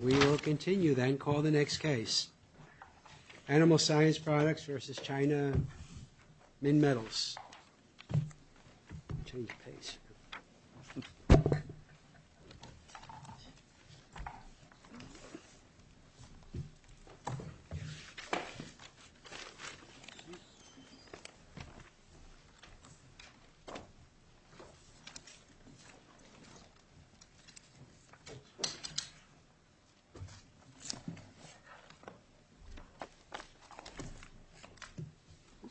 We will continue, then call the next case. Animal Science Products, Inc.v.China Minmetals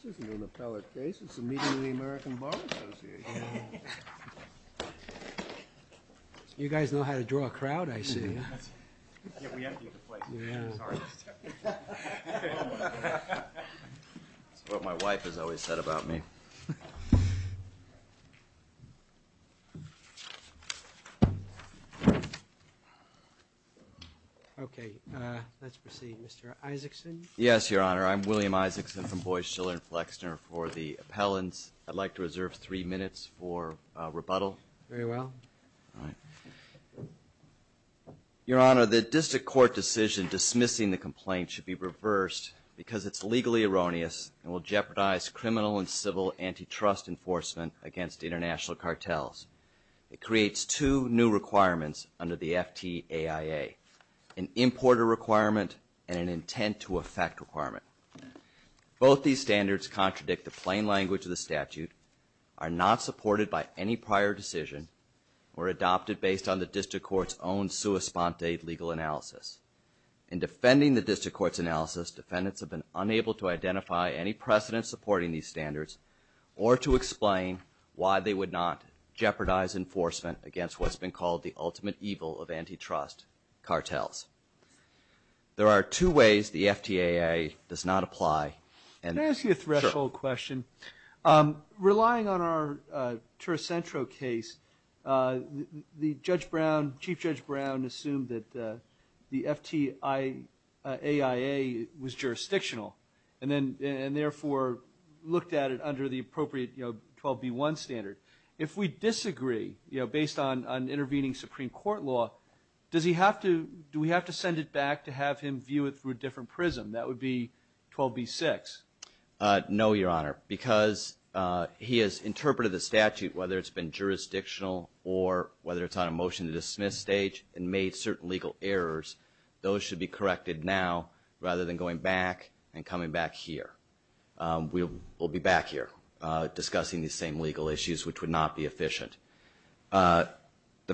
This isn't an appellate case. It's a meeting of the American Bar Association. You guys know how to draw a crowd, I see. Yeah, we have to get to places. Sorry. That's what my wife has always said about me. Okay, let's proceed. Mr. Isaacson? Yes, Your Honor. I'm William Isaacson from Boyce, Shiller & Flexner for the appellants. I'd like to reserve three minutes for rebuttal. Very well. Your Honor, the district court decision dismissing the complaint should be reversed because it's legally erroneous and will jeopardize criminal and civil antitrust enforcement against international cartels. It creates two new requirements under the FTAIA, an importer requirement and an intent-to-effect requirement. Both these standards contradict the plain language of the statute, are not supported by any prior decision, or adopted based on the district court's own sua sponte legal analysis. In defending the district court's analysis, defendants have been unable to identify any precedent supporting these standards or to explain why they would not jeopardize enforcement against what's been called the ultimate evil of antitrust cartels. There are two ways the FTAIA does not apply. Can I ask you a threshold question? Relying on our Tercentro case, the Chief Judge Brown assumed that the FTAIA was jurisdictional and therefore looked at it under the appropriate 12b1 standard. If we disagree based on intervening Supreme Court law, do we have to send it back to have him view it through a different prism? That would be 12b6. No, Your Honor, because he has interpreted the statute, whether it's been jurisdictional or whether it's on a motion-to-dismiss stage, and made certain legal errors. Those should be corrected now rather than going back and coming back here. We'll be back here discussing these same legal issues, which would not be efficient. The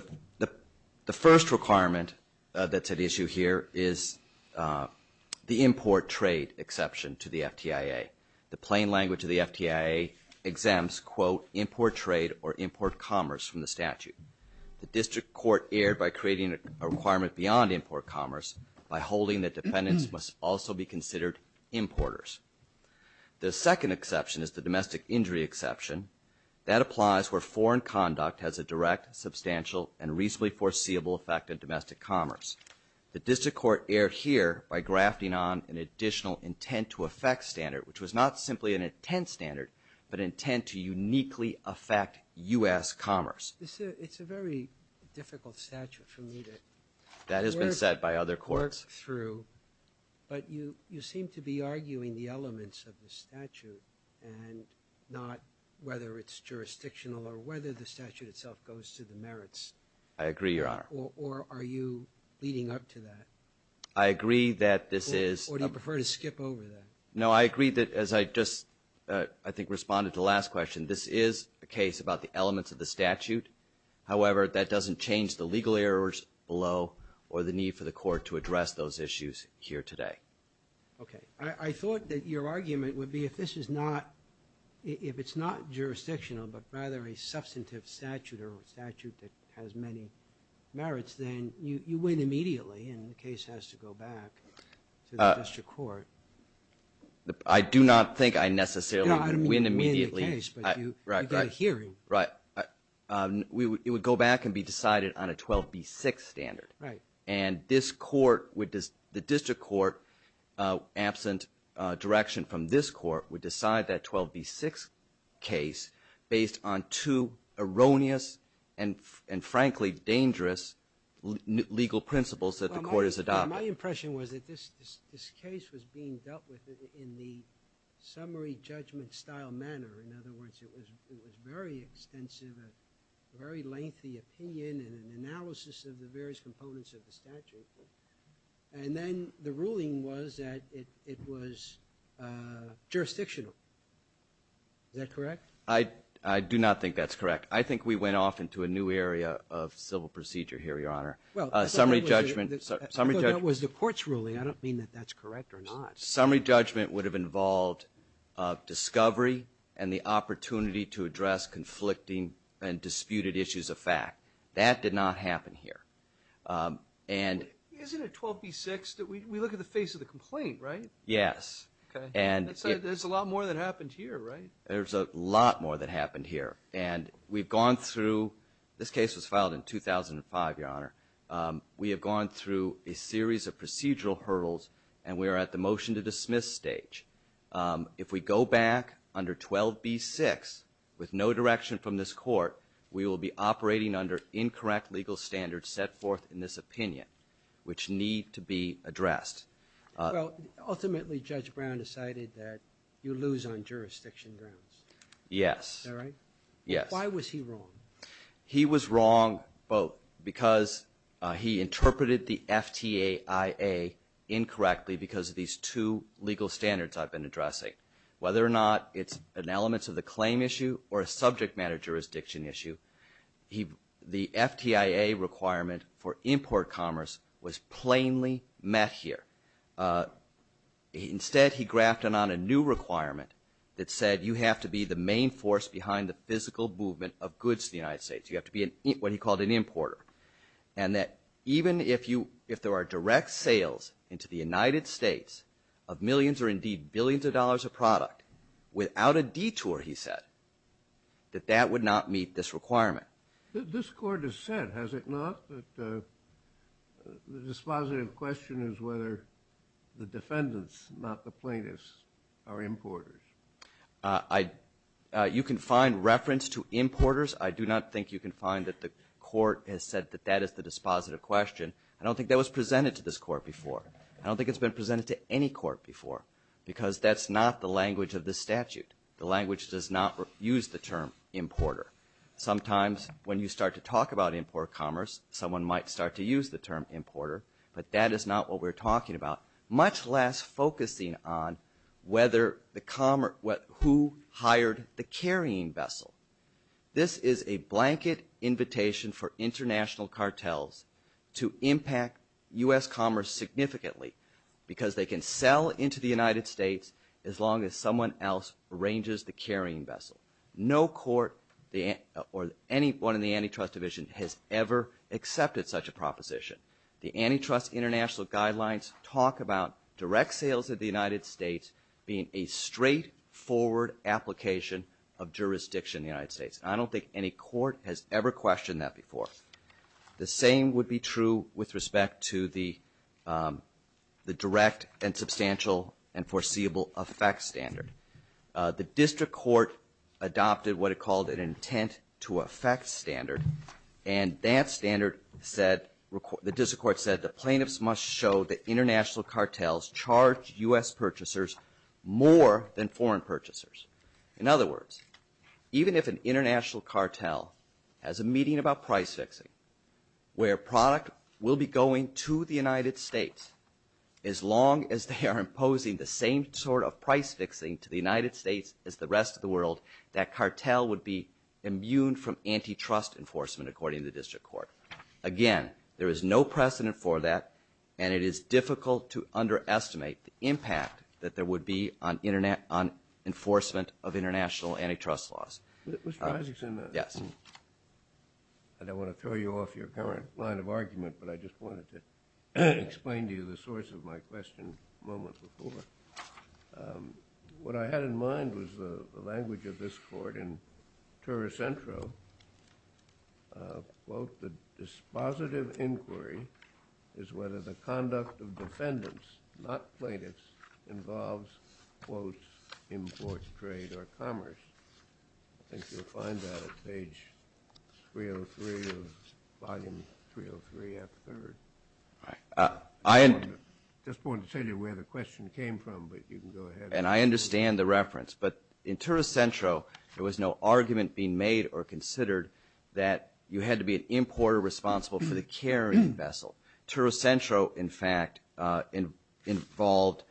first requirement that's at issue here is the import trade exception to the FTAIA. The plain language of the FTAIA exempts, quote, import trade or import commerce from the statute. The district court erred by creating a requirement beyond import commerce by holding that defendants must also be considered importers. The second exception is the domestic injury exception. That applies where foreign conduct has a direct, substantial, and reasonably foreseeable effect on domestic commerce. The district court erred here by grafting on an additional intent-to-effect standard, which was not simply an intent standard, but intent to uniquely affect U.S. commerce. It's a very difficult statute for me to work through. That has been said by other courts. But you seem to be arguing the elements of the statute and not whether it's jurisdictional or whether the statute itself goes to the merits. I agree, Your Honor. Or are you leading up to that? I agree that this is. Or do you prefer to skip over that? No, I agree that as I just, I think, responded to the last question, this is a case about the elements of the statute. However, that doesn't change the legal errors below or the need for the court to address those issues here today. Okay. I thought that your argument would be if this is not, if it's not jurisdictional but rather a substantive statute or a statute that has many merits, then you win immediately and the case has to go back to the district court. I do not think I necessarily win immediately. You win the case, but you get a hearing. Right. It would go back and be decided on a 12B6 standard. Right. And this court would, the district court, absent direction from this court, would decide that 12B6 case based on two erroneous and frankly dangerous legal principles that the court has adopted. My impression was that this case was being dealt with in the summary judgment style manner. In other words, it was very extensive, a very lengthy opinion and an analysis of the various components of the statute, and then the ruling was that it was jurisdictional. Is that correct? I do not think that's correct. I think we went off into a new area of civil procedure here, Your Honor. Summary judgment. I thought that was the court's ruling. I don't mean that that's correct or not. Summary judgment would have involved discovery and the opportunity to address conflicting and disputed issues of fact. That did not happen here. Isn't it 12B6 that we look at the face of the complaint, right? Yes. There's a lot more that happened here, right? There's a lot more that happened here, and we've gone through, this case was filed in 2005, Your Honor. We have gone through a series of procedural hurdles, and we are at the motion to dismiss stage. If we go back under 12B6 with no direction from this court, we will be operating under incorrect legal standards set forth in this opinion, which need to be addressed. Ultimately, Judge Brown decided that you lose on jurisdiction grounds. Yes. Is that right? Yes. Why was he wrong? He was wrong both because he interpreted the FTAIA incorrectly because of these two legal standards I've been addressing. Whether or not it's an elements of the claim issue or a subject matter jurisdiction issue, the FTAIA requirement for import commerce was plainly met here. Instead, he grafted on a new requirement that said you have to be the main force behind the physical movement of goods in the United States. You have to be what he called an importer, and that even if there are direct sales into the United States of millions or indeed billions of dollars of product without a detour, he said, that that would not meet this requirement. This court has said, has it not, that the dispositive question is whether the defendants, not the plaintiffs, are importers. You can find reference to importers. I do not think you can find that the court has said that that is the dispositive question. I don't think that was presented to this court before. I don't think it's been presented to any court before because that's not the language of this statute. The language does not use the term importer. Sometimes when you start to talk about import commerce, someone might start to use the term importer, but that is not what we're talking about, much less focusing on who hired the carrying vessel. This is a blanket invitation for international cartels to impact U.S. commerce significantly because they can sell into the United States as long as someone else arranges the carrying vessel. No court or anyone in the antitrust division has ever accepted such a proposition. The Antitrust International Guidelines talk about direct sales of the United States being a straightforward application of jurisdiction in the United States, and I don't think any court has ever questioned that before. The same would be true with respect to the direct and substantial and foreseeable effect standard. The district court adopted what it called an intent to effect standard, and that standard said, the district court said, the plaintiffs must show that international cartels charge U.S. purchasers more than foreign purchasers. In other words, even if an international cartel has a meeting about price fixing where product will be going to the United States as long as they are imposing the same sort of price fixing to the United States as the rest of the world, that cartel would be immune from antitrust enforcement, according to the district court. Again, there is no precedent for that, and it is difficult to underestimate the impact that there would be on enforcement of international antitrust laws. Mr. Isaacson? Yes. I don't want to throw you off your current line of argument, but I just wanted to explain to you the source of my question moments before. What I had in mind was the language of this court in Turri Centro, quote, the dispositive inquiry is whether the conduct of defendants, not plaintiffs, involves, quote, import, trade, or commerce. I think you'll find that at page 303 of volume 303, after the third. I just wanted to tell you where the question came from. And I understand the reference. But in Turri Centro, there was no argument being made or considered that you had to be an importer responsible for the carrying vessel. Turri Centro, in fact, involved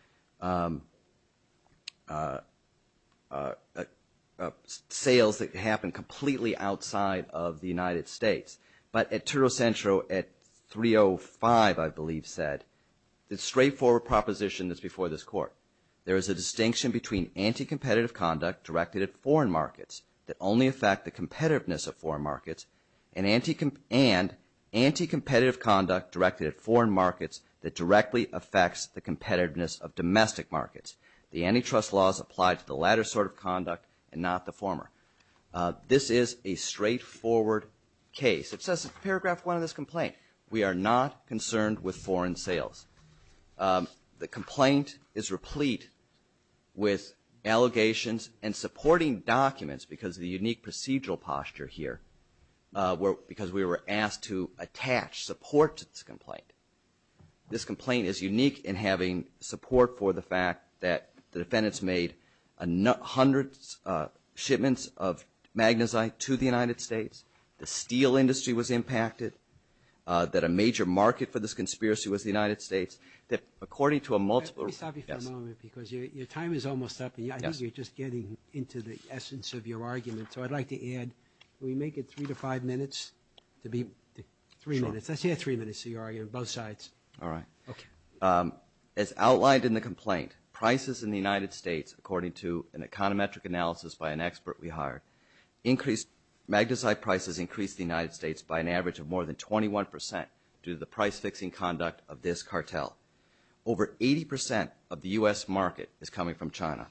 sales that happened completely outside of the United States. But at Turri Centro, at 305, I believe, said, the straightforward proposition that's before this court, there is a distinction between anti-competitive conduct directed at foreign markets that only affect the competitiveness of foreign markets and anti-competitive conduct directed at foreign markets that directly affects the competitiveness of domestic markets. The antitrust laws apply to the latter sort of conduct and not the former. This is a straightforward case. It says in paragraph one of this complaint, we are not concerned with foreign sales. The complaint is replete with allegations and supporting documents, because of the unique procedural posture here, because we were asked to attach support to this complaint. This complaint is unique in having support for the fact that the defendants made hundreds of shipments of magnezyte to the United States. The steel industry was impacted, that a major market for this conspiracy was the United States, that according to a multiple... Let me stop you for a moment, because your time is almost up. I think you're just getting into the essence of your argument. So I'd like to add, can we make it three to five minutes? To be three minutes. Let's hear three minutes of your argument, both sides. All right. As outlined in the complaint, prices in the United States, according to an econometric analysis by an expert we hired, increased... Magnezyte prices increased in the United States by an average of more than 21%, due to the price-fixing conduct of this cartel. Over 80% of the U.S. market is coming from China.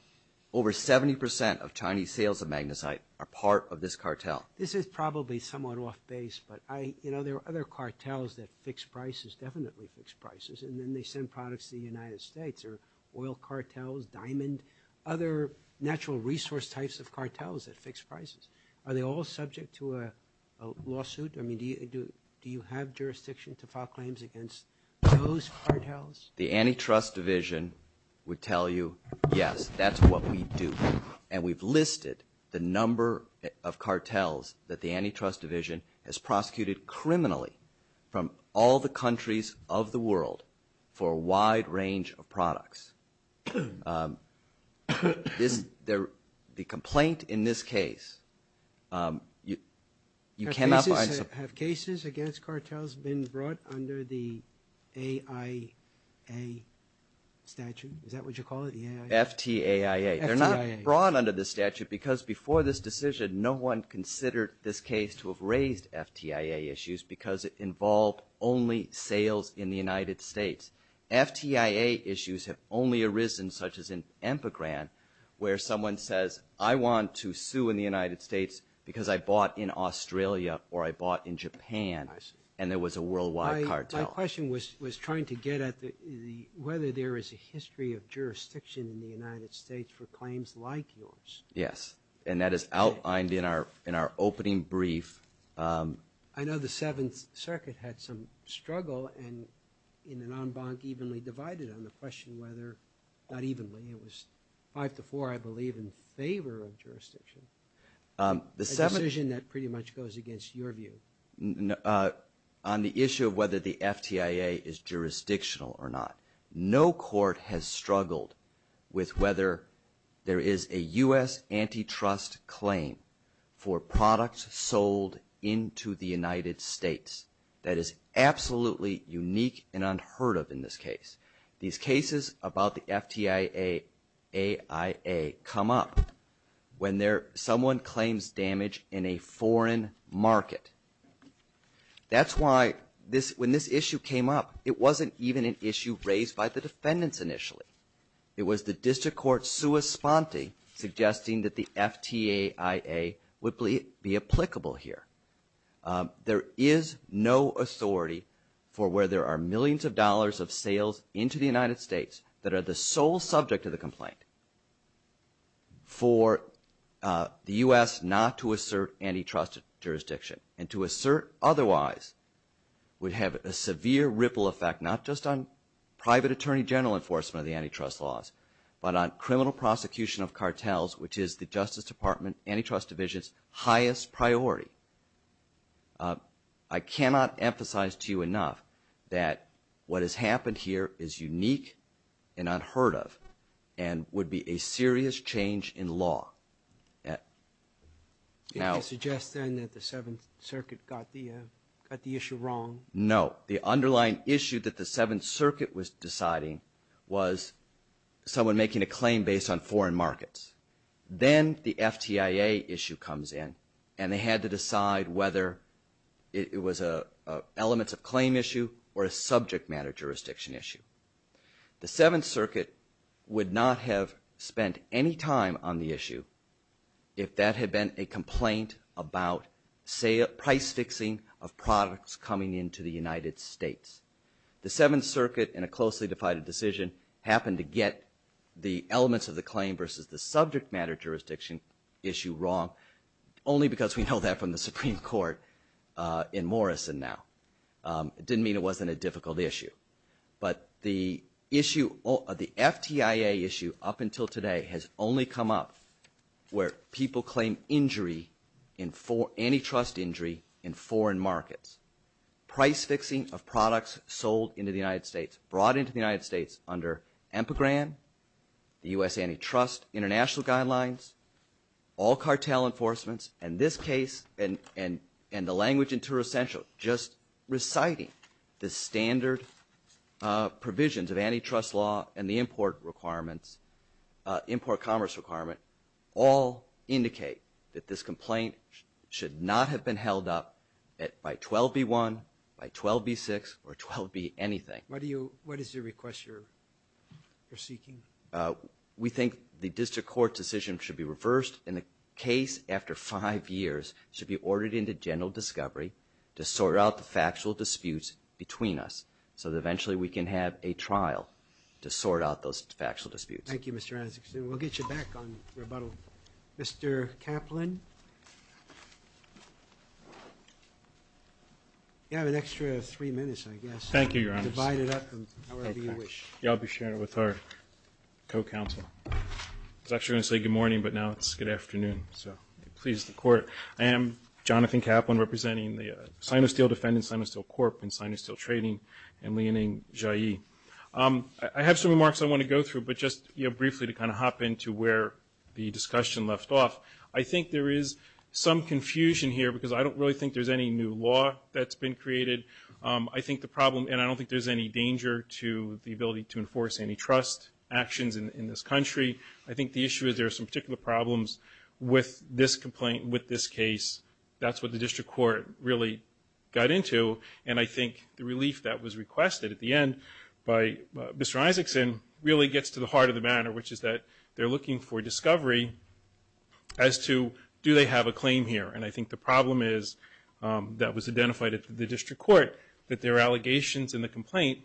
Over 70% of Chinese sales of magnezyte are part of this cartel. This is probably somewhat off-base, but I... You know, there are other cartels that fix prices, definitely fix prices, and then they send products to the United States, or oil cartels, diamond, and other natural resource types of cartels that fix prices. Are they all subject to a lawsuit? I mean, do you have jurisdiction to file claims against those cartels? The Antitrust Division would tell you, yes, that's what we do. And we've listed the number of cartels that the Antitrust Division has prosecuted criminally from all the countries of the world for a wide range of products. The complaint in this case, you cannot find... Have cases against cartels been brought under the AIA statute? Is that what you call it, the AIA? FTAIA. They're not brought under this statute because before this decision, no one considered this case to have raised FTAIA issues because it involved only sales in the United States. FTAIA issues have only arisen such as in Empegran where someone says, I want to sue in the United States because I bought in Australia or I bought in Japan, and there was a worldwide cartel. My question was trying to get at whether there is a history of jurisdiction in the United States for claims like yours. Yes, and that is outlined in our opening brief. I know the Seventh Circuit had some struggle and in an en banc evenly divided on the question whether, not evenly, it was five to four, I believe, in favor of jurisdiction. A decision that pretty much goes against your view. On the issue of whether the FTAIA is jurisdictional or not, no court has struggled with whether there is a U.S. antitrust claim for products sold into the United States that is absolutely unique and unheard of in this case. These cases about the FTAIA come up when someone claims damage in a foreign market. That's why when this issue came up, it wasn't even an issue raised by the defendants initially. It was the district court's sua sponte suggesting that the FTAIA would be applicable here. There is no authority for where there are millions of dollars of sales into the United States that are the sole subject of the complaint for the U.S. not to assert antitrust jurisdiction. And to assert otherwise would have a severe ripple effect, not just on private attorney general enforcement of the antitrust laws, but on criminal prosecution of cartels, which is the Justice Department antitrust division's highest priority. I cannot emphasize to you enough that what has happened here is unique and unheard of and would be a serious change in law. Can you suggest then that the Seventh Circuit got the issue wrong? No. The underlying issue that the Seventh Circuit was deciding was someone making a claim based on foreign markets. Then the FTAIA issue comes in, and they had to decide whether it was an elements of claim issue or a subject matter jurisdiction issue. The Seventh Circuit would not have spent any time on the issue if that had been a complaint about price fixing of products coming into the United States. The Seventh Circuit, in a closely divided decision, happened to get the elements of the claim versus the subject matter jurisdiction issue wrong only because we know that from the Supreme Court in Morrison now. It didn't mean it wasn't a difficult issue. But the FTAIA issue up until today has only come up where people claim antitrust injury in foreign markets. Price fixing of products sold into the United States, brought into the United States under EMPA grant, the U.S. Antitrust International Guidelines, all cartel enforcements, and this case, and the language in Turo Central, just reciting the standard provisions of antitrust law and the import requirements, import commerce requirement, all indicate that this complaint should not have been held up by 12b-1, by 12b-6, or 12b-anything. What is your request you're seeking? We think the district court decision should be reversed and the case, after five years, should be ordered into general discovery to sort out the factual disputes between us so that eventually we can have a trial to sort out those factual disputes. Thank you, Mr. Anzic. We'll get you back on rebuttal. Thank you. Mr. Kaplan. You have an extra three minutes, I guess. Thank you, Your Honor. Divide it up however you wish. I'll be sharing it with our co-counsel. I was actually going to say good morning, but now it's good afternoon, so please, the court. I am Jonathan Kaplan, representing the Sino-Steel Defendant, Sino-Steel Corp, and Sino-Steel Trading, and Leoning Zhai. I have some remarks I want to go through, but just briefly to kind of hop into where the discussion left off. I think there is some confusion here because I don't really think there's any new law that's been created. I think the problem, and I don't think there's any danger to the ability to enforce any trust actions in this country. I think the issue is there are some particular problems with this complaint, with this case. That's what the district court really got into, and I think the relief that was requested at the end by Mr. Isaacson really gets to the heart of the matter, which is that they're looking for discovery as to do they have a claim here. And I think the problem is, that was identified at the district court, that there are allegations in the complaint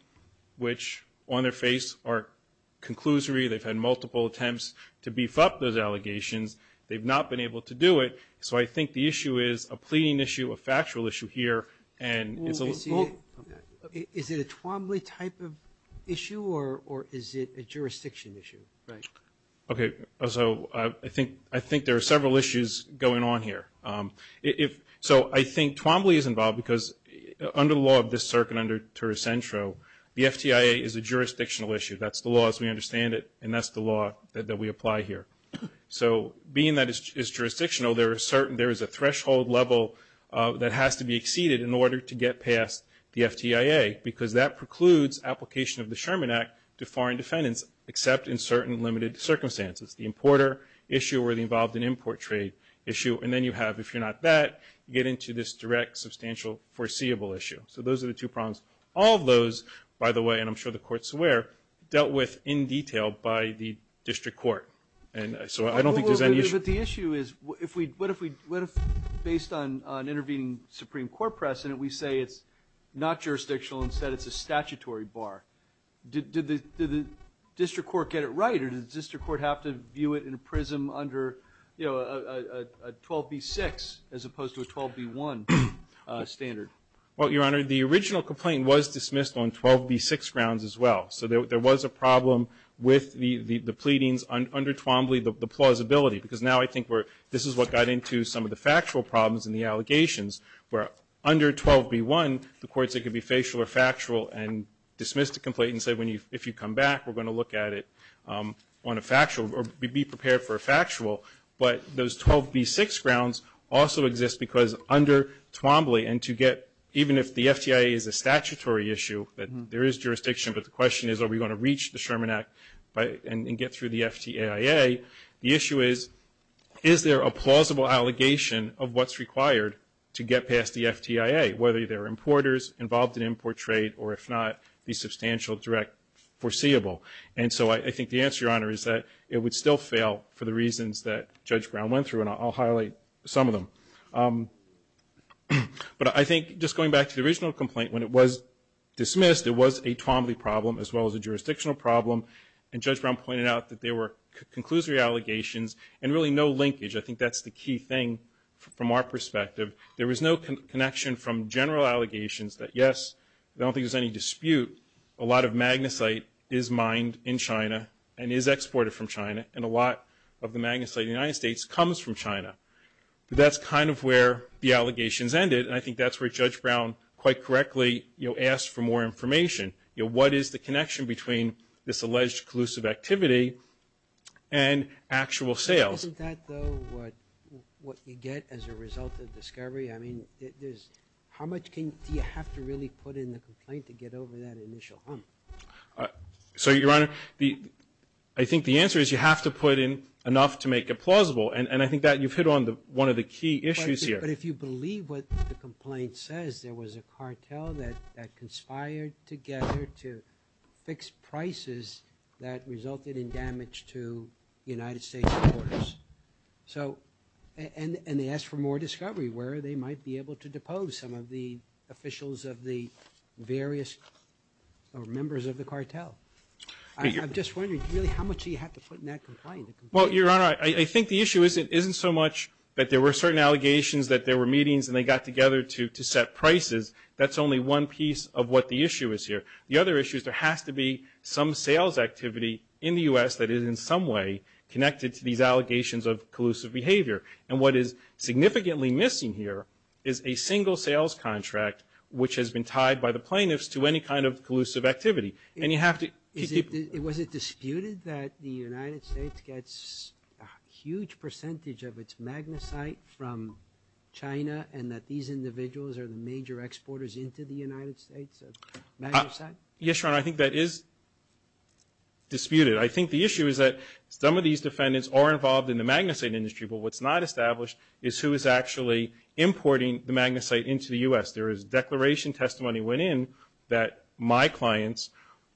which, on their face, are conclusory. They've had multiple attempts to beef up those allegations. They've not been able to do it, so I think the issue is a pleading issue, a factual issue here, and it's a little... Is it a Twombly type of issue, or is it a jurisdiction issue? Right. Okay, so I think there are several issues going on here. So I think Twombly is involved because under the law of this circuit, under Tercentro, the FTIA is a jurisdictional issue. That's the law as we understand it, and that's the law that we apply here. So being that it's jurisdictional, there is a threshold level that has to be exceeded in order to get past the FTIA, because that precludes application of the Sherman Act to foreign defendants, except in certain limited circumstances. The importer issue or the involved in import trade issue, and then you have, if you're not that, you get into this direct, substantial, foreseeable issue. So those are the two problems. All of those, by the way, and I'm sure the Court's aware, dealt with in detail by the district court. And so I don't think there's any issue... But the issue is, what if, based on intervening Supreme Court precedent, we say it's not jurisdictional, instead it's a statutory bar? Did the district court get it right, or did the district court have to view it in a prism under, you know, a 12b-6 as opposed to a 12b-1 standard? Well, Your Honor, the original complaint was dismissed on 12b-6 grounds as well. So there was a problem with the pleadings under Twombly, the plausibility, because now I think we're... in the allegations, where under 12b-1, the court said it could be facial or factual and dismissed the complaint and said, if you come back, we're going to look at it on a factual, or be prepared for a factual. But those 12b-6 grounds also exist because under Twombly, and to get... Even if the FTIA is a statutory issue, there is jurisdiction, but the question is, are we going to reach the Sherman Act and get through the FTIA? The issue is, is there a plausible allegation of what's required to get past the FTIA, whether they're importers involved in import trade, or if not, the substantial direct foreseeable? And so I think the answer, Your Honor, is that it would still fail for the reasons that Judge Brown went through, and I'll highlight some of them. But I think, just going back to the original complaint, when it was dismissed, it was a Twombly problem as well as a jurisdictional problem, and Judge Brown pointed out that there were conclusory allegations and really no linkage. I think that's the key thing from our perspective. There was no connection from general allegations that, yes, I don't think there's any dispute, a lot of magnesite is mined in China and is exported from China, and a lot of the magnesite in the United States comes from China. But that's kind of where the allegations ended, and I think that's where Judge Brown, quite correctly, asked for more information. You know, what is the connection between this alleged collusive activity and actual sales? Isn't that, though, what you get as a result of discovery? I mean, how much do you have to really put in the complaint to get over that initial hump? So, Your Honor, I think the answer is you have to put in enough to make it plausible, and I think that you've hit on one of the key issues here. But if you believe what the complaint says, there was a cartel that conspired together to fix prices that resulted in damage to the United States' borders. So, and they asked for more discovery, where they might be able to depose some of the officials of the various, or members of the cartel. I'm just wondering, really, how much do you have to put in that complaint? Well, Your Honor, I think the issue isn't so much that there were certain allegations, that there were meetings, and they got together to set prices. That's only one piece of what the issue is here. The other issue is there has to be some sales activity in the U.S. that is, in some way, connected to these allegations of collusive behavior. And what is significantly missing here is a single sales contract, which has been tied by the plaintiffs to any kind of collusive activity. And you have to keep... Was it disputed that the United States gets a huge percentage of its magnesite from China, and that these individuals are the major exporters into the United States of magnesite? Yes, Your Honor, I think that is disputed. I think the issue is that some of these defendants are involved in the magnesite industry, but what's not established is who is actually importing the magnesite into the U.S. There is declaration testimony went in that my clients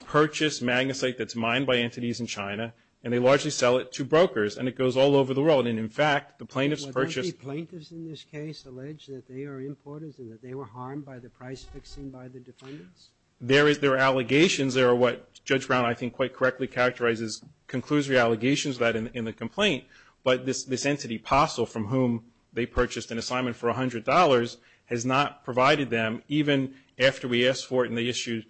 purchase magnesite that's mined by entities in China, and they largely sell it to brokers, and it goes all over the world. And, in fact, the plaintiffs purchase... Was there any plaintiffs in this case alleged that they are importers and that they were harmed by the price fixing by the defendants? There is. There are allegations. There are what Judge Brown, I think, quite correctly characterizes, conclusory allegations of that in the complaint. But this entity, Possel, from whom they purchased an assignment for $100, has not provided them, even after we asked for it and they issued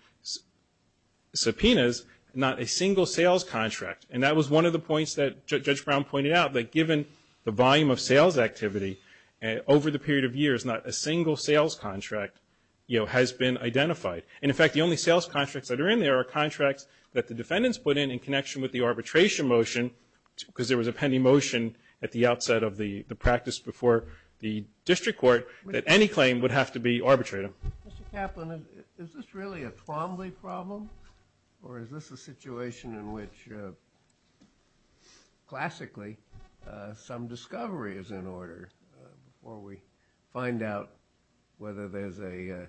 subpoenas, not a single sales contract. And that was one of the points that Judge Brown pointed out, that given the volume of sales activity over the period of years, not a single sales contract has been identified. And, in fact, the only sales contracts that are in there are contracts that the defendants put in in connection with the arbitration motion, because there was a pending motion at the outset of the practice before the district court that any claim would have to be arbitrated. Mr. Kaplan, is this really a Trombley problem or is this a situation in which, classically, some discovery is in order before we find out whether there's an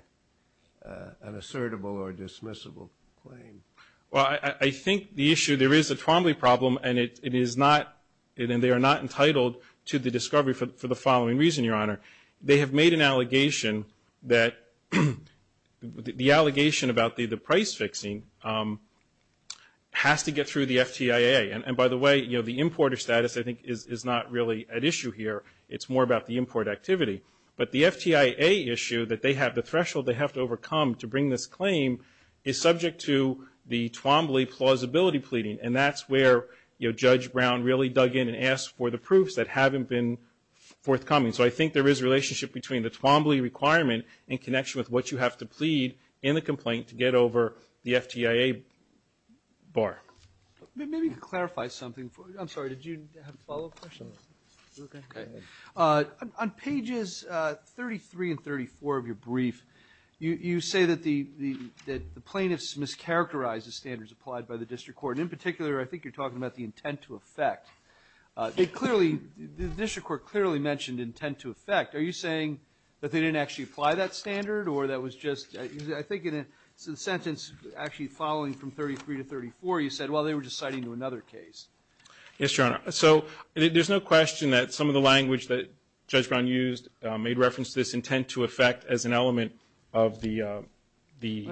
assertable or dismissible claim? Well, I think the issue, there is a Trombley problem and it is not, and they are not entitled to the discovery for the following reason, Your Honor. They have made an allegation that, the allegation about the price fixing has to get through the FTIA. And, by the way, the importer status, I think, is not really at issue here. It's more about the import activity. But the FTIA issue that they have, the threshold they have to overcome to bring this claim, is subject to the Trombley plausibility pleading and that's where Judge Brown really dug in and asked for the proofs that haven't been forthcoming. So I think there is a relationship between the Trombley requirement and connection with what you have to plead in the complaint to get over the FTIA bar. Maybe you could clarify something. I'm sorry, did you have a follow-up question? No. Okay. On pages 33 and 34 of your brief, you say that the plaintiffs mischaracterized the standards applied by the District Court. In particular, I think you're talking about the intent to effect. They clearly, the District Court clearly mentioned intent to effect. Are you saying that they didn't actually apply that standard or that was just, I think in a sentence actually following from 33 to 34, you said, well, they were just citing to another case. Yes, Your Honor. So there's no question that some of the language that Judge Brown used made reference to this intent to effect as an element of the standard.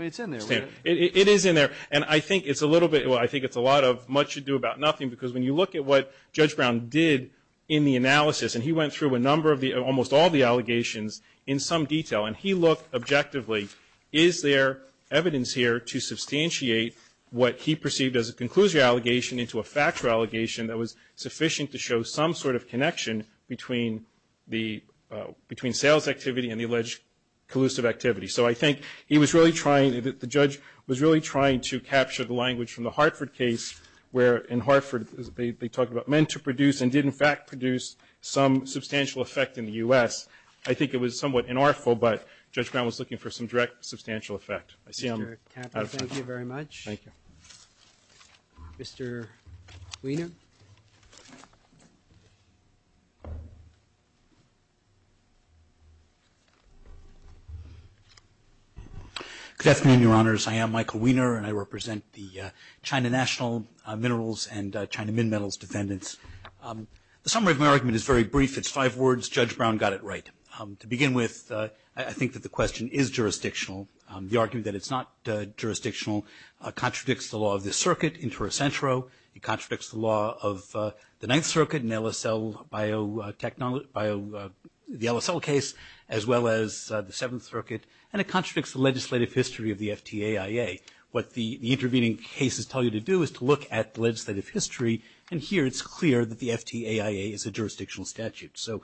It's in there, right? It is in there. And I think it's a little bit, well, I think it's a lot of much ado about nothing because when you look at what Judge Brown did in the analysis, and he went through a number of the, almost all the allegations in some detail, and he looked objectively, is there evidence here to substantiate what he perceived as a conclusion allegation into a factual allegation that was sufficient to show some sort of connection between the, between sales activity and the alleged collusive activity. So I think he was really trying, the judge was really trying to capture the language from the Hartford case where in Hartford they talked about meant to produce and did in fact produce some substantial effect in the U.S. I think it was somewhat inartful, but Judge Brown was looking for some direct substantial effect. I see I'm out of time. Thank you very much. Thank you. Mr. Wiener. Good afternoon, Your Honors. I am Michael Wiener, and I represent the China National Minerals and China Min Metals defendants. The summary of my argument is very brief. It's five words. Judge Brown got it right. To begin with, I think that the question is jurisdictional. The argument that it's not jurisdictional contradicts the law of the circuit in Terracentro. It contradicts the law of the Ninth Circuit in LSL biotechnology, the LSL case as well as the Seventh Circuit, and it contradicts the legislative history of the FTAIA. What the intervening cases tell you to do is to look at the legislative history, and here it's clear that the FTAIA is a jurisdictional statute. So,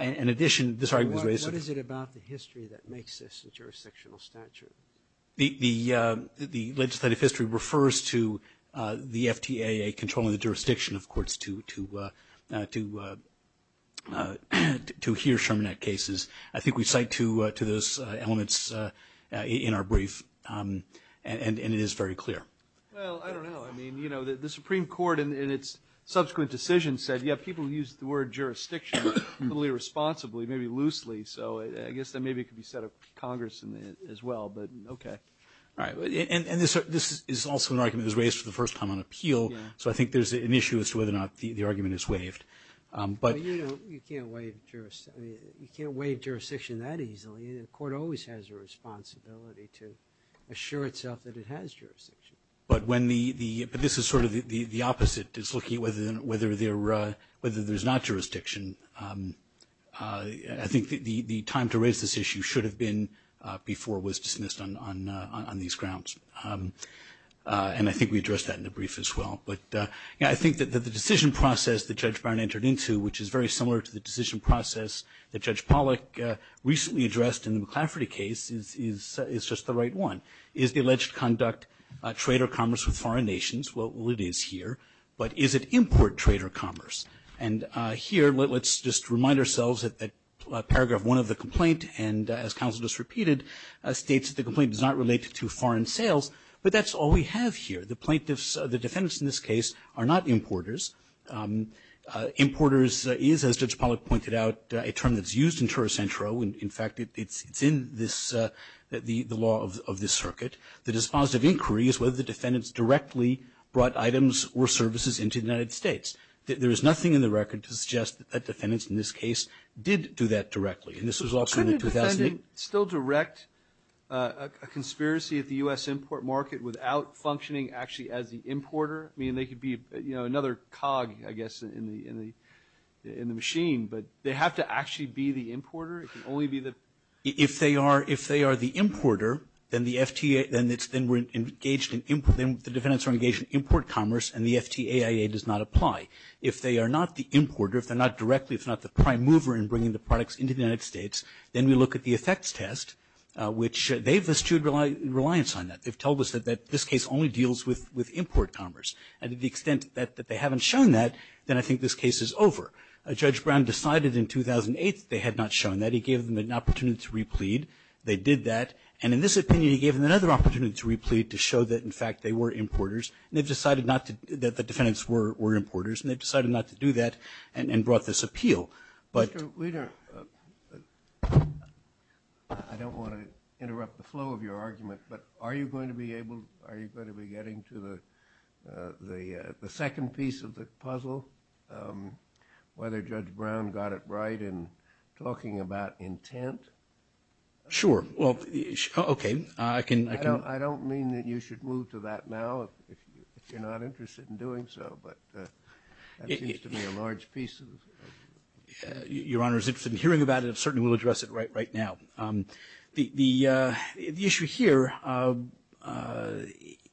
in addition, this argument was raised. What is it about the history that makes this a jurisdictional statute? The legislative history refers to the FTAIA controlling the jurisdiction, of course, to hear Charminet cases. I think we cite to those elements in our brief, and it is very clear. Well, I don't know. I mean, you know, the Supreme Court in its subsequent decision said, yeah, people use the word jurisdiction totally responsibly, maybe loosely. So, I guess that maybe it could be set up Congress as well, but okay. Right. And this is also an argument that was raised for the first time on appeal. So, I think there's an issue as to whether or not the argument is waived. But, you know, you can't waive jurisdiction that easily. The court always has a responsibility to assure itself that it has jurisdiction. But when the, but this is sort of the opposite. It's looking at whether there's not jurisdiction. I think the time to raise this issue should have been before it was dismissed on these grounds. And I think we addressed that in the brief as well. But, yeah, I think that the decision process that Judge Byron entered into, which is very similar to the decision process that Judge Pollack recently addressed in the McCafferty case, is just the right one. Is the alleged conduct trade or commerce with foreign nations? Well, it is here. But is it import trade or commerce? And here, let's just remind ourselves that paragraph one of the complaint, and as counsel just repeated, states that the complaint does not relate to foreign sales. But that's all we have here. The plaintiffs, the defendants in this case, are not importers. Importers is, as Judge Pollack pointed out, a term that's used in Toro Centro. In fact, it's in this, the law of this circuit. The dispositive inquiry is whether the defendants directly brought items or services into the United States. There is nothing in the record to suggest that defendants in this case did do that directly. And this was also in 2008. Couldn't a defendant still direct a conspiracy at the U.S. import market without functioning actually as the importer? I mean, they could be, you know, another cog, I guess, in the machine. But they have to actually be the importer? It can only be the. If they are, if they are the importer, then the FTA, then it's, then we're engaged in import, then the defendants are engaged in import commerce and the FTAIA does not apply. If they are not the importer, if they're not directly, if they're not the prime mover in bringing the products into the United States, then we look at the effects test, which they've eschewed reliance on that. They've told us that this case only deals with import commerce. And to the extent that they haven't shown that, then I think this case is over. Judge Brown decided in 2008 that they had not shown that. He gave them an opportunity to replead. They did that. And in this opinion, he gave them another opportunity to replead to show that, in fact, they were importers. And they've decided not to, that the defendants were, were importers. And they've decided not to do that and, and brought this appeal. But, we don't, I don't want to interrupt the flow of your argument, but are you going to be able, are you going to be getting to the, the, the second piece of the puzzle, whether Judge Brown got it right in talking about intent? Sure. Well, okay. I can, I don't, I don't mean that you should move to that now if you're not interested in doing so, but that seems to be a large piece. Your Honor, is interested in hearing about it. I certainly will address it right, right now. The, the, the issue here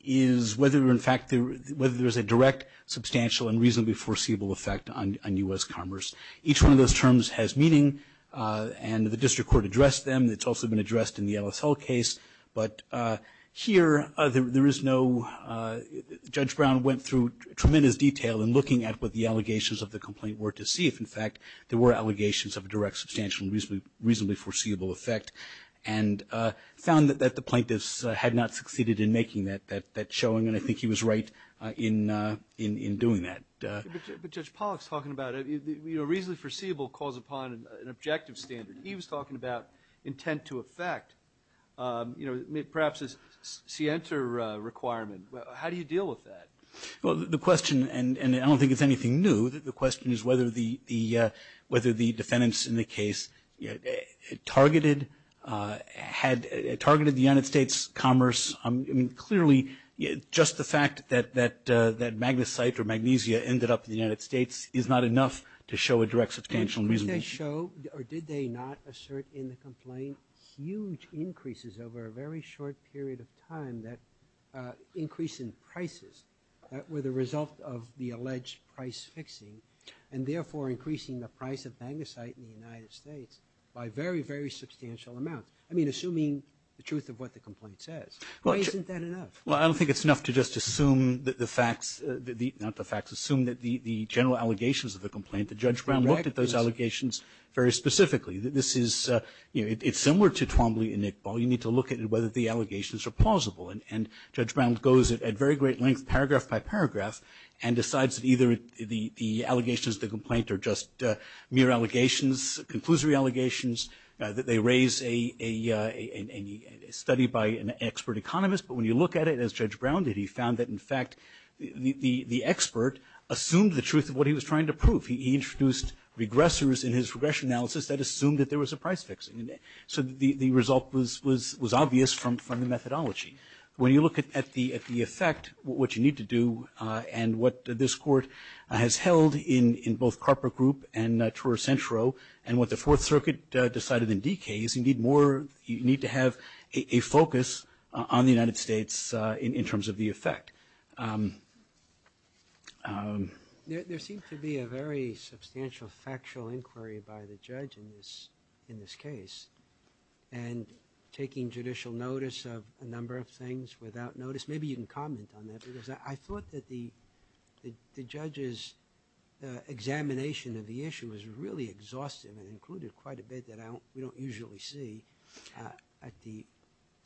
is whether, in fact, whether there's a direct, substantial, and reasonably foreseeable effect on, on U.S. commerce. Each one of those terms has meaning, and the district court addressed them. It's also been addressed in the L.S. Hull case, but here, there, there is no, Judge Brown went through tremendous detail in looking at what the allegations of the complaint were to see if, in fact, there were allegations of a direct, substantial, reasonably foreseeable effect, and found that, that the plaintiffs had not succeeded in making that, that, that showing, and I think he was right in, in, in doing that. But Judge Pollack's talking about it. You know, reasonably foreseeable calls upon an objective standard. He was talking about intent to effect. You know, perhaps a scienter requirement. How do you deal with that? Well, the question, and, and I don't think it's anything new, the question is whether the, the, whether the defendants in the case targeted, had targeted the United States commerce. I mean, clearly, just the fact that, that, that Magnesite or Magnesia ended up in the United States is not enough to show a direct, substantial, reasonable. Did they show, or did they not assert in the complaint huge increases over a very short period of time that increase in prices that were the result of the alleged price fixing, and therefore increasing the price of Magnesite in the United States by very, very substantial amounts. I mean, assuming the truth of what the complaint says. Well, isn't that enough? Well, I don't think it's enough to just assume that the facts, the, not the facts, assume that the, the general allegations of the complaint, the judge Brown looked at those allegations very specifically. This is, you know, it's similar to Twombly and Nickball. You need to look at it, whether the allegations are plausible and, and judge Brown goes at very great length, paragraph by paragraph, and decides that either the, the allegations, the complaint, or just mere allegations, conclusory allegations, that they raise a, a, a, a study by an expert economist. But when you look at it, as judge Brown did, he found that, in fact, the, the, the expert assumed the truth of what he was trying to prove. He, he introduced regressors in his regression analysis that assumed that there was a price fixing. So the, the result was, was, was obvious from, from the methodology. When you look at, at the, at the effect, what you need to do, and what this court has held in, in both Carper Group and Truro Centro, and what the Fourth Circuit decided in D.K. is you need more, you need to have a, a focus on the United States in, in terms of the effect. There, there seems to be a very substantial factual inquiry by the judge in this, in this case. And taking judicial notice of a number of things without notice, maybe you can comment on that, because I, I thought that the, the, the judges' examination of the issue was really exhaustive and included quite a bit that I don't, we don't usually see at the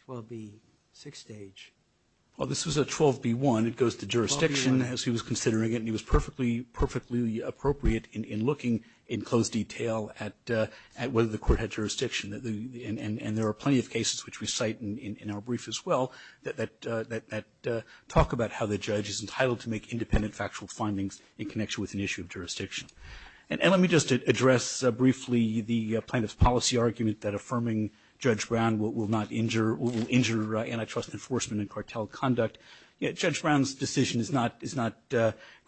12B6 stage. this was a 12B1. It goes to jurisdiction as he was considering it, and he was perfectly, perfectly appropriate in, in looking in close detail at, at whether the court had jurisdiction that the, and, and there are plenty of cases which we cite in, in our brief as well that, that, that talk about how the judge is entitled to make a connection with an issue of jurisdiction. And, and let me just address briefly the plaintiff's policy argument that affirming Judge Brown will, will not injure, will injure antitrust enforcement and cartel conduct. Judge Brown's decision is not, is not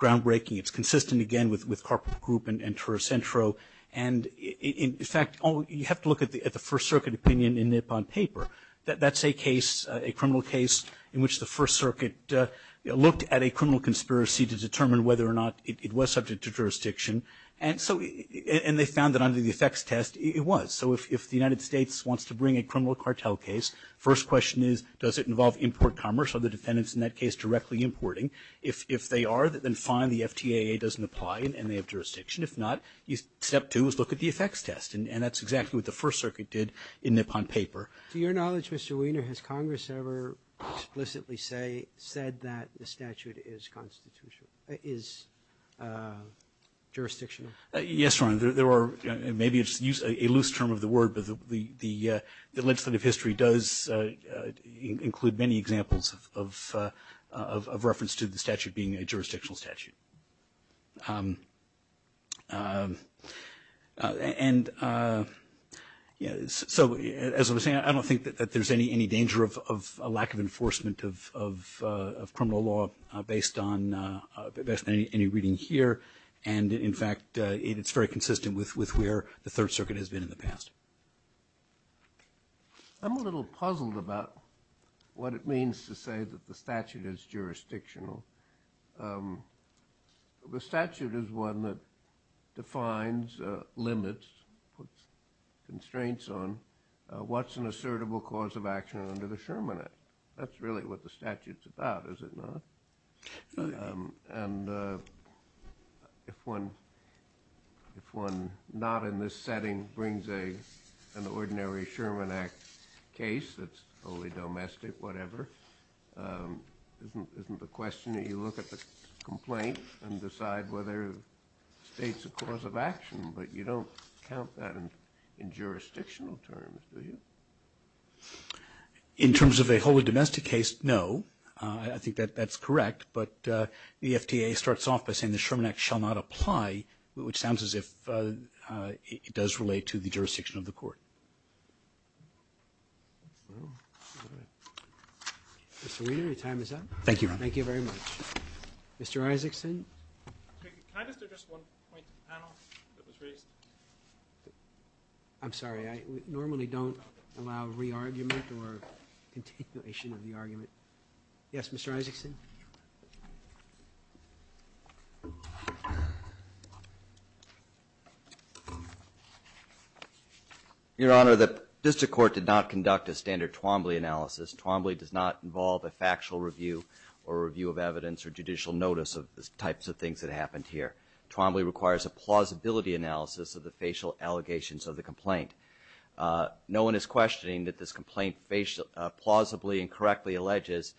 groundbreaking. It's consistent, again, with, with Carper Group and, and Turo Centro. And in, in fact, you have to look at the, at the First Circuit opinion in Nippon paper. That, that's a case, a criminal case in which the First Circuit looked at a case, it was subject to jurisdiction. And so, and they found that under the effects test, it was. So if, if the United States wants to bring a criminal cartel case, first question is, does it involve import commerce or the defendants in that case directly importing? If, if they are, then fine, the FTAA doesn't apply and, and they have jurisdiction. If not, step two is look at the effects test. And, and that's exactly what the First Circuit did in Nippon paper. To your knowledge, Mr. Weiner, has Congress ever explicitly say, said that the statute is constitutional, is jurisdictional? Yes, Your Honor. There, there are, maybe it's a loose term of the word, but the, the legislative history does include many examples of, of, of reference to the statute being a jurisdictional statute. And, so as I was saying, I don't think that, that there's any, any danger of, of a lack of enforcement of, of, of criminal law based on, based on any reading here. And in fact, it's very consistent with, with where the Third Circuit has been in the past. I'm a little puzzled about what it means to say that the statute is jurisdictional. The statute is one that defines limits, puts constraints on, what's an assertable cause of action under the Sherman Act. That's really what the statute's about, is it not? Absolutely. And, if one, if one, not in this setting, brings a, an ordinary Sherman Act case that's wholly domestic, whatever, isn't, isn't the question that you look at the complaint and decide whether it states a cause of action. But you don't count that in, in jurisdictional terms, do you? In terms of a wholly domestic case, no. I think that, that's correct. But the FTA starts off by saying the Sherman Act shall not apply, which sounds as if it does relate to the jurisdiction of the court. Mr. Weiner, your time is up. Thank you, Your Honor. Thank you very much. Mr. Isaacson. Can I just address one point to the panel that was raised? I'm sorry. I normally don't allow re-argument or continuation of the argument. Yes, Mr. Isaacson. Your Honor, the district court did not conduct a standard Twombly analysis. Twombly does not involve a factual review or review of evidence or judicial notice of the types of things that happened here. Twombly requires a plausibility analysis of the facial allegations of the complaint. No one is questioning that this complaint plausibly and correctly alleges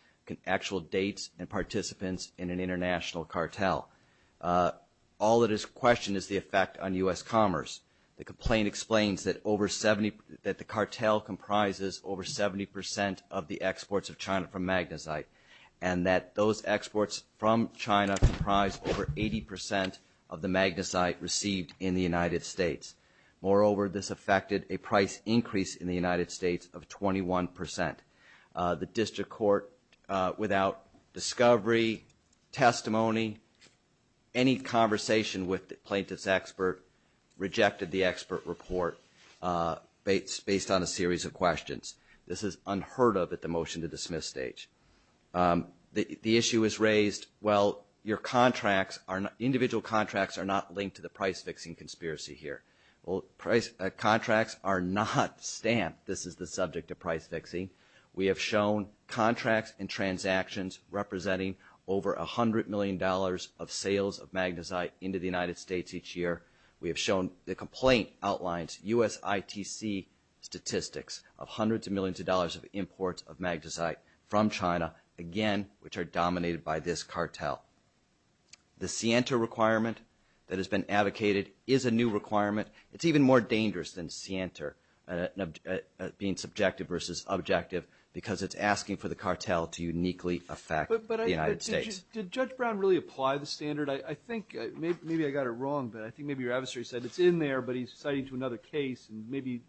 actual dates and participants in an international cartel. All that is questioned is the effect on U.S. commerce. The complaint explains that the cartel comprises over 70% of the exports of China from Magnesite and that those exports from China comprise over 80% of the Magnesite received in the United States. Moreover, this affected a price increase in the United States of 21%. The district court, without discovery, testimony, any conversation with the plaintiff's expert rejected the expert report based on a series of questions. This is unheard of at the motion-to-dismiss stage. The issue is raised, well, your contracts, individual contracts are not linked to the price-fixing conspiracy here. Contracts are not stamped. This is the subject of price-fixing. We have shown contracts and transactions representing over $100 million of sales of Magnesite into the United States each year. We have shown the complaint outlines USITC statistics of hundreds of millions of dollars of imports of Magnesite from China, again, which are dominated by this cartel. The SIENTA requirement that has been advocated is a new requirement. It's even more dangerous than SIENTA being subjective versus objective because it's asking for the cartel to uniquely affect the United States. But did Judge Brown really apply the standard? I think maybe I got it wrong, but I think maybe your adversary said it's in there, but he's citing it to another case, and maybe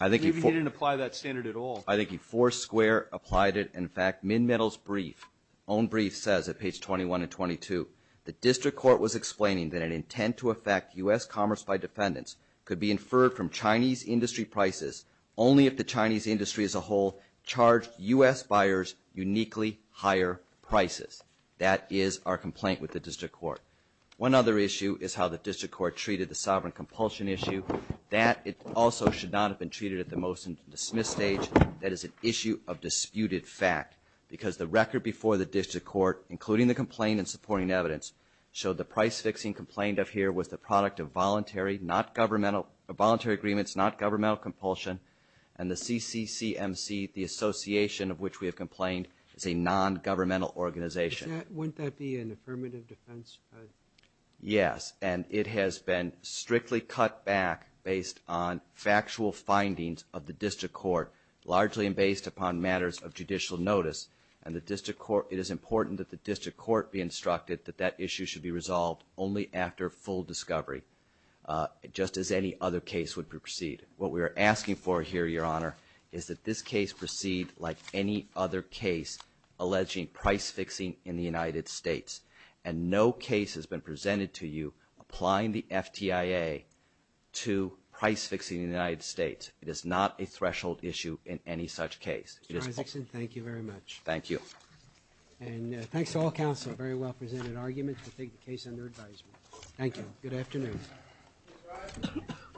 he didn't apply that standard at all. I think he foursquare applied it. In fact, Min Metal's brief, own brief, says at page 21 and 22, the district court was explaining that an intent to affect U.S. commerce by defendants could be inferred from Chinese industry prices only if the Chinese industry as a whole charged U.S. buyers uniquely higher prices. That is our complaint with the district court. One other issue is how the district court treated the sovereign compulsion issue. That also should not have been treated at the motion-to-dismiss stage. That is an issue of disputed fact because the record before the district court, including the complaint and supporting evidence, showed the price-fixing complaint up here was the product of voluntary agreements, not governmental compulsion, and the CCCMC, the association of which we have complained, is a nongovernmental organization. Wouldn't that be an affirmative defense? Yes, and it has been strictly cut back based on factual findings of the district court, largely based upon matters of judicial notice, and it is important that the district court be instructed that that issue should be resolved only after full discovery, just as any other case would proceed. What we are asking for here, Your Honor, is that this case proceed like any other case alleging price-fixing in the United States, and no case has been presented to you applying the FTIA to price-fixing in the United States. It is not a threshold issue in any such case. Mr. Isaacson, thank you very much. Thank you. And thanks to all counsel for a very well-presented argument to take the case under advisement. Thank you. Good afternoon.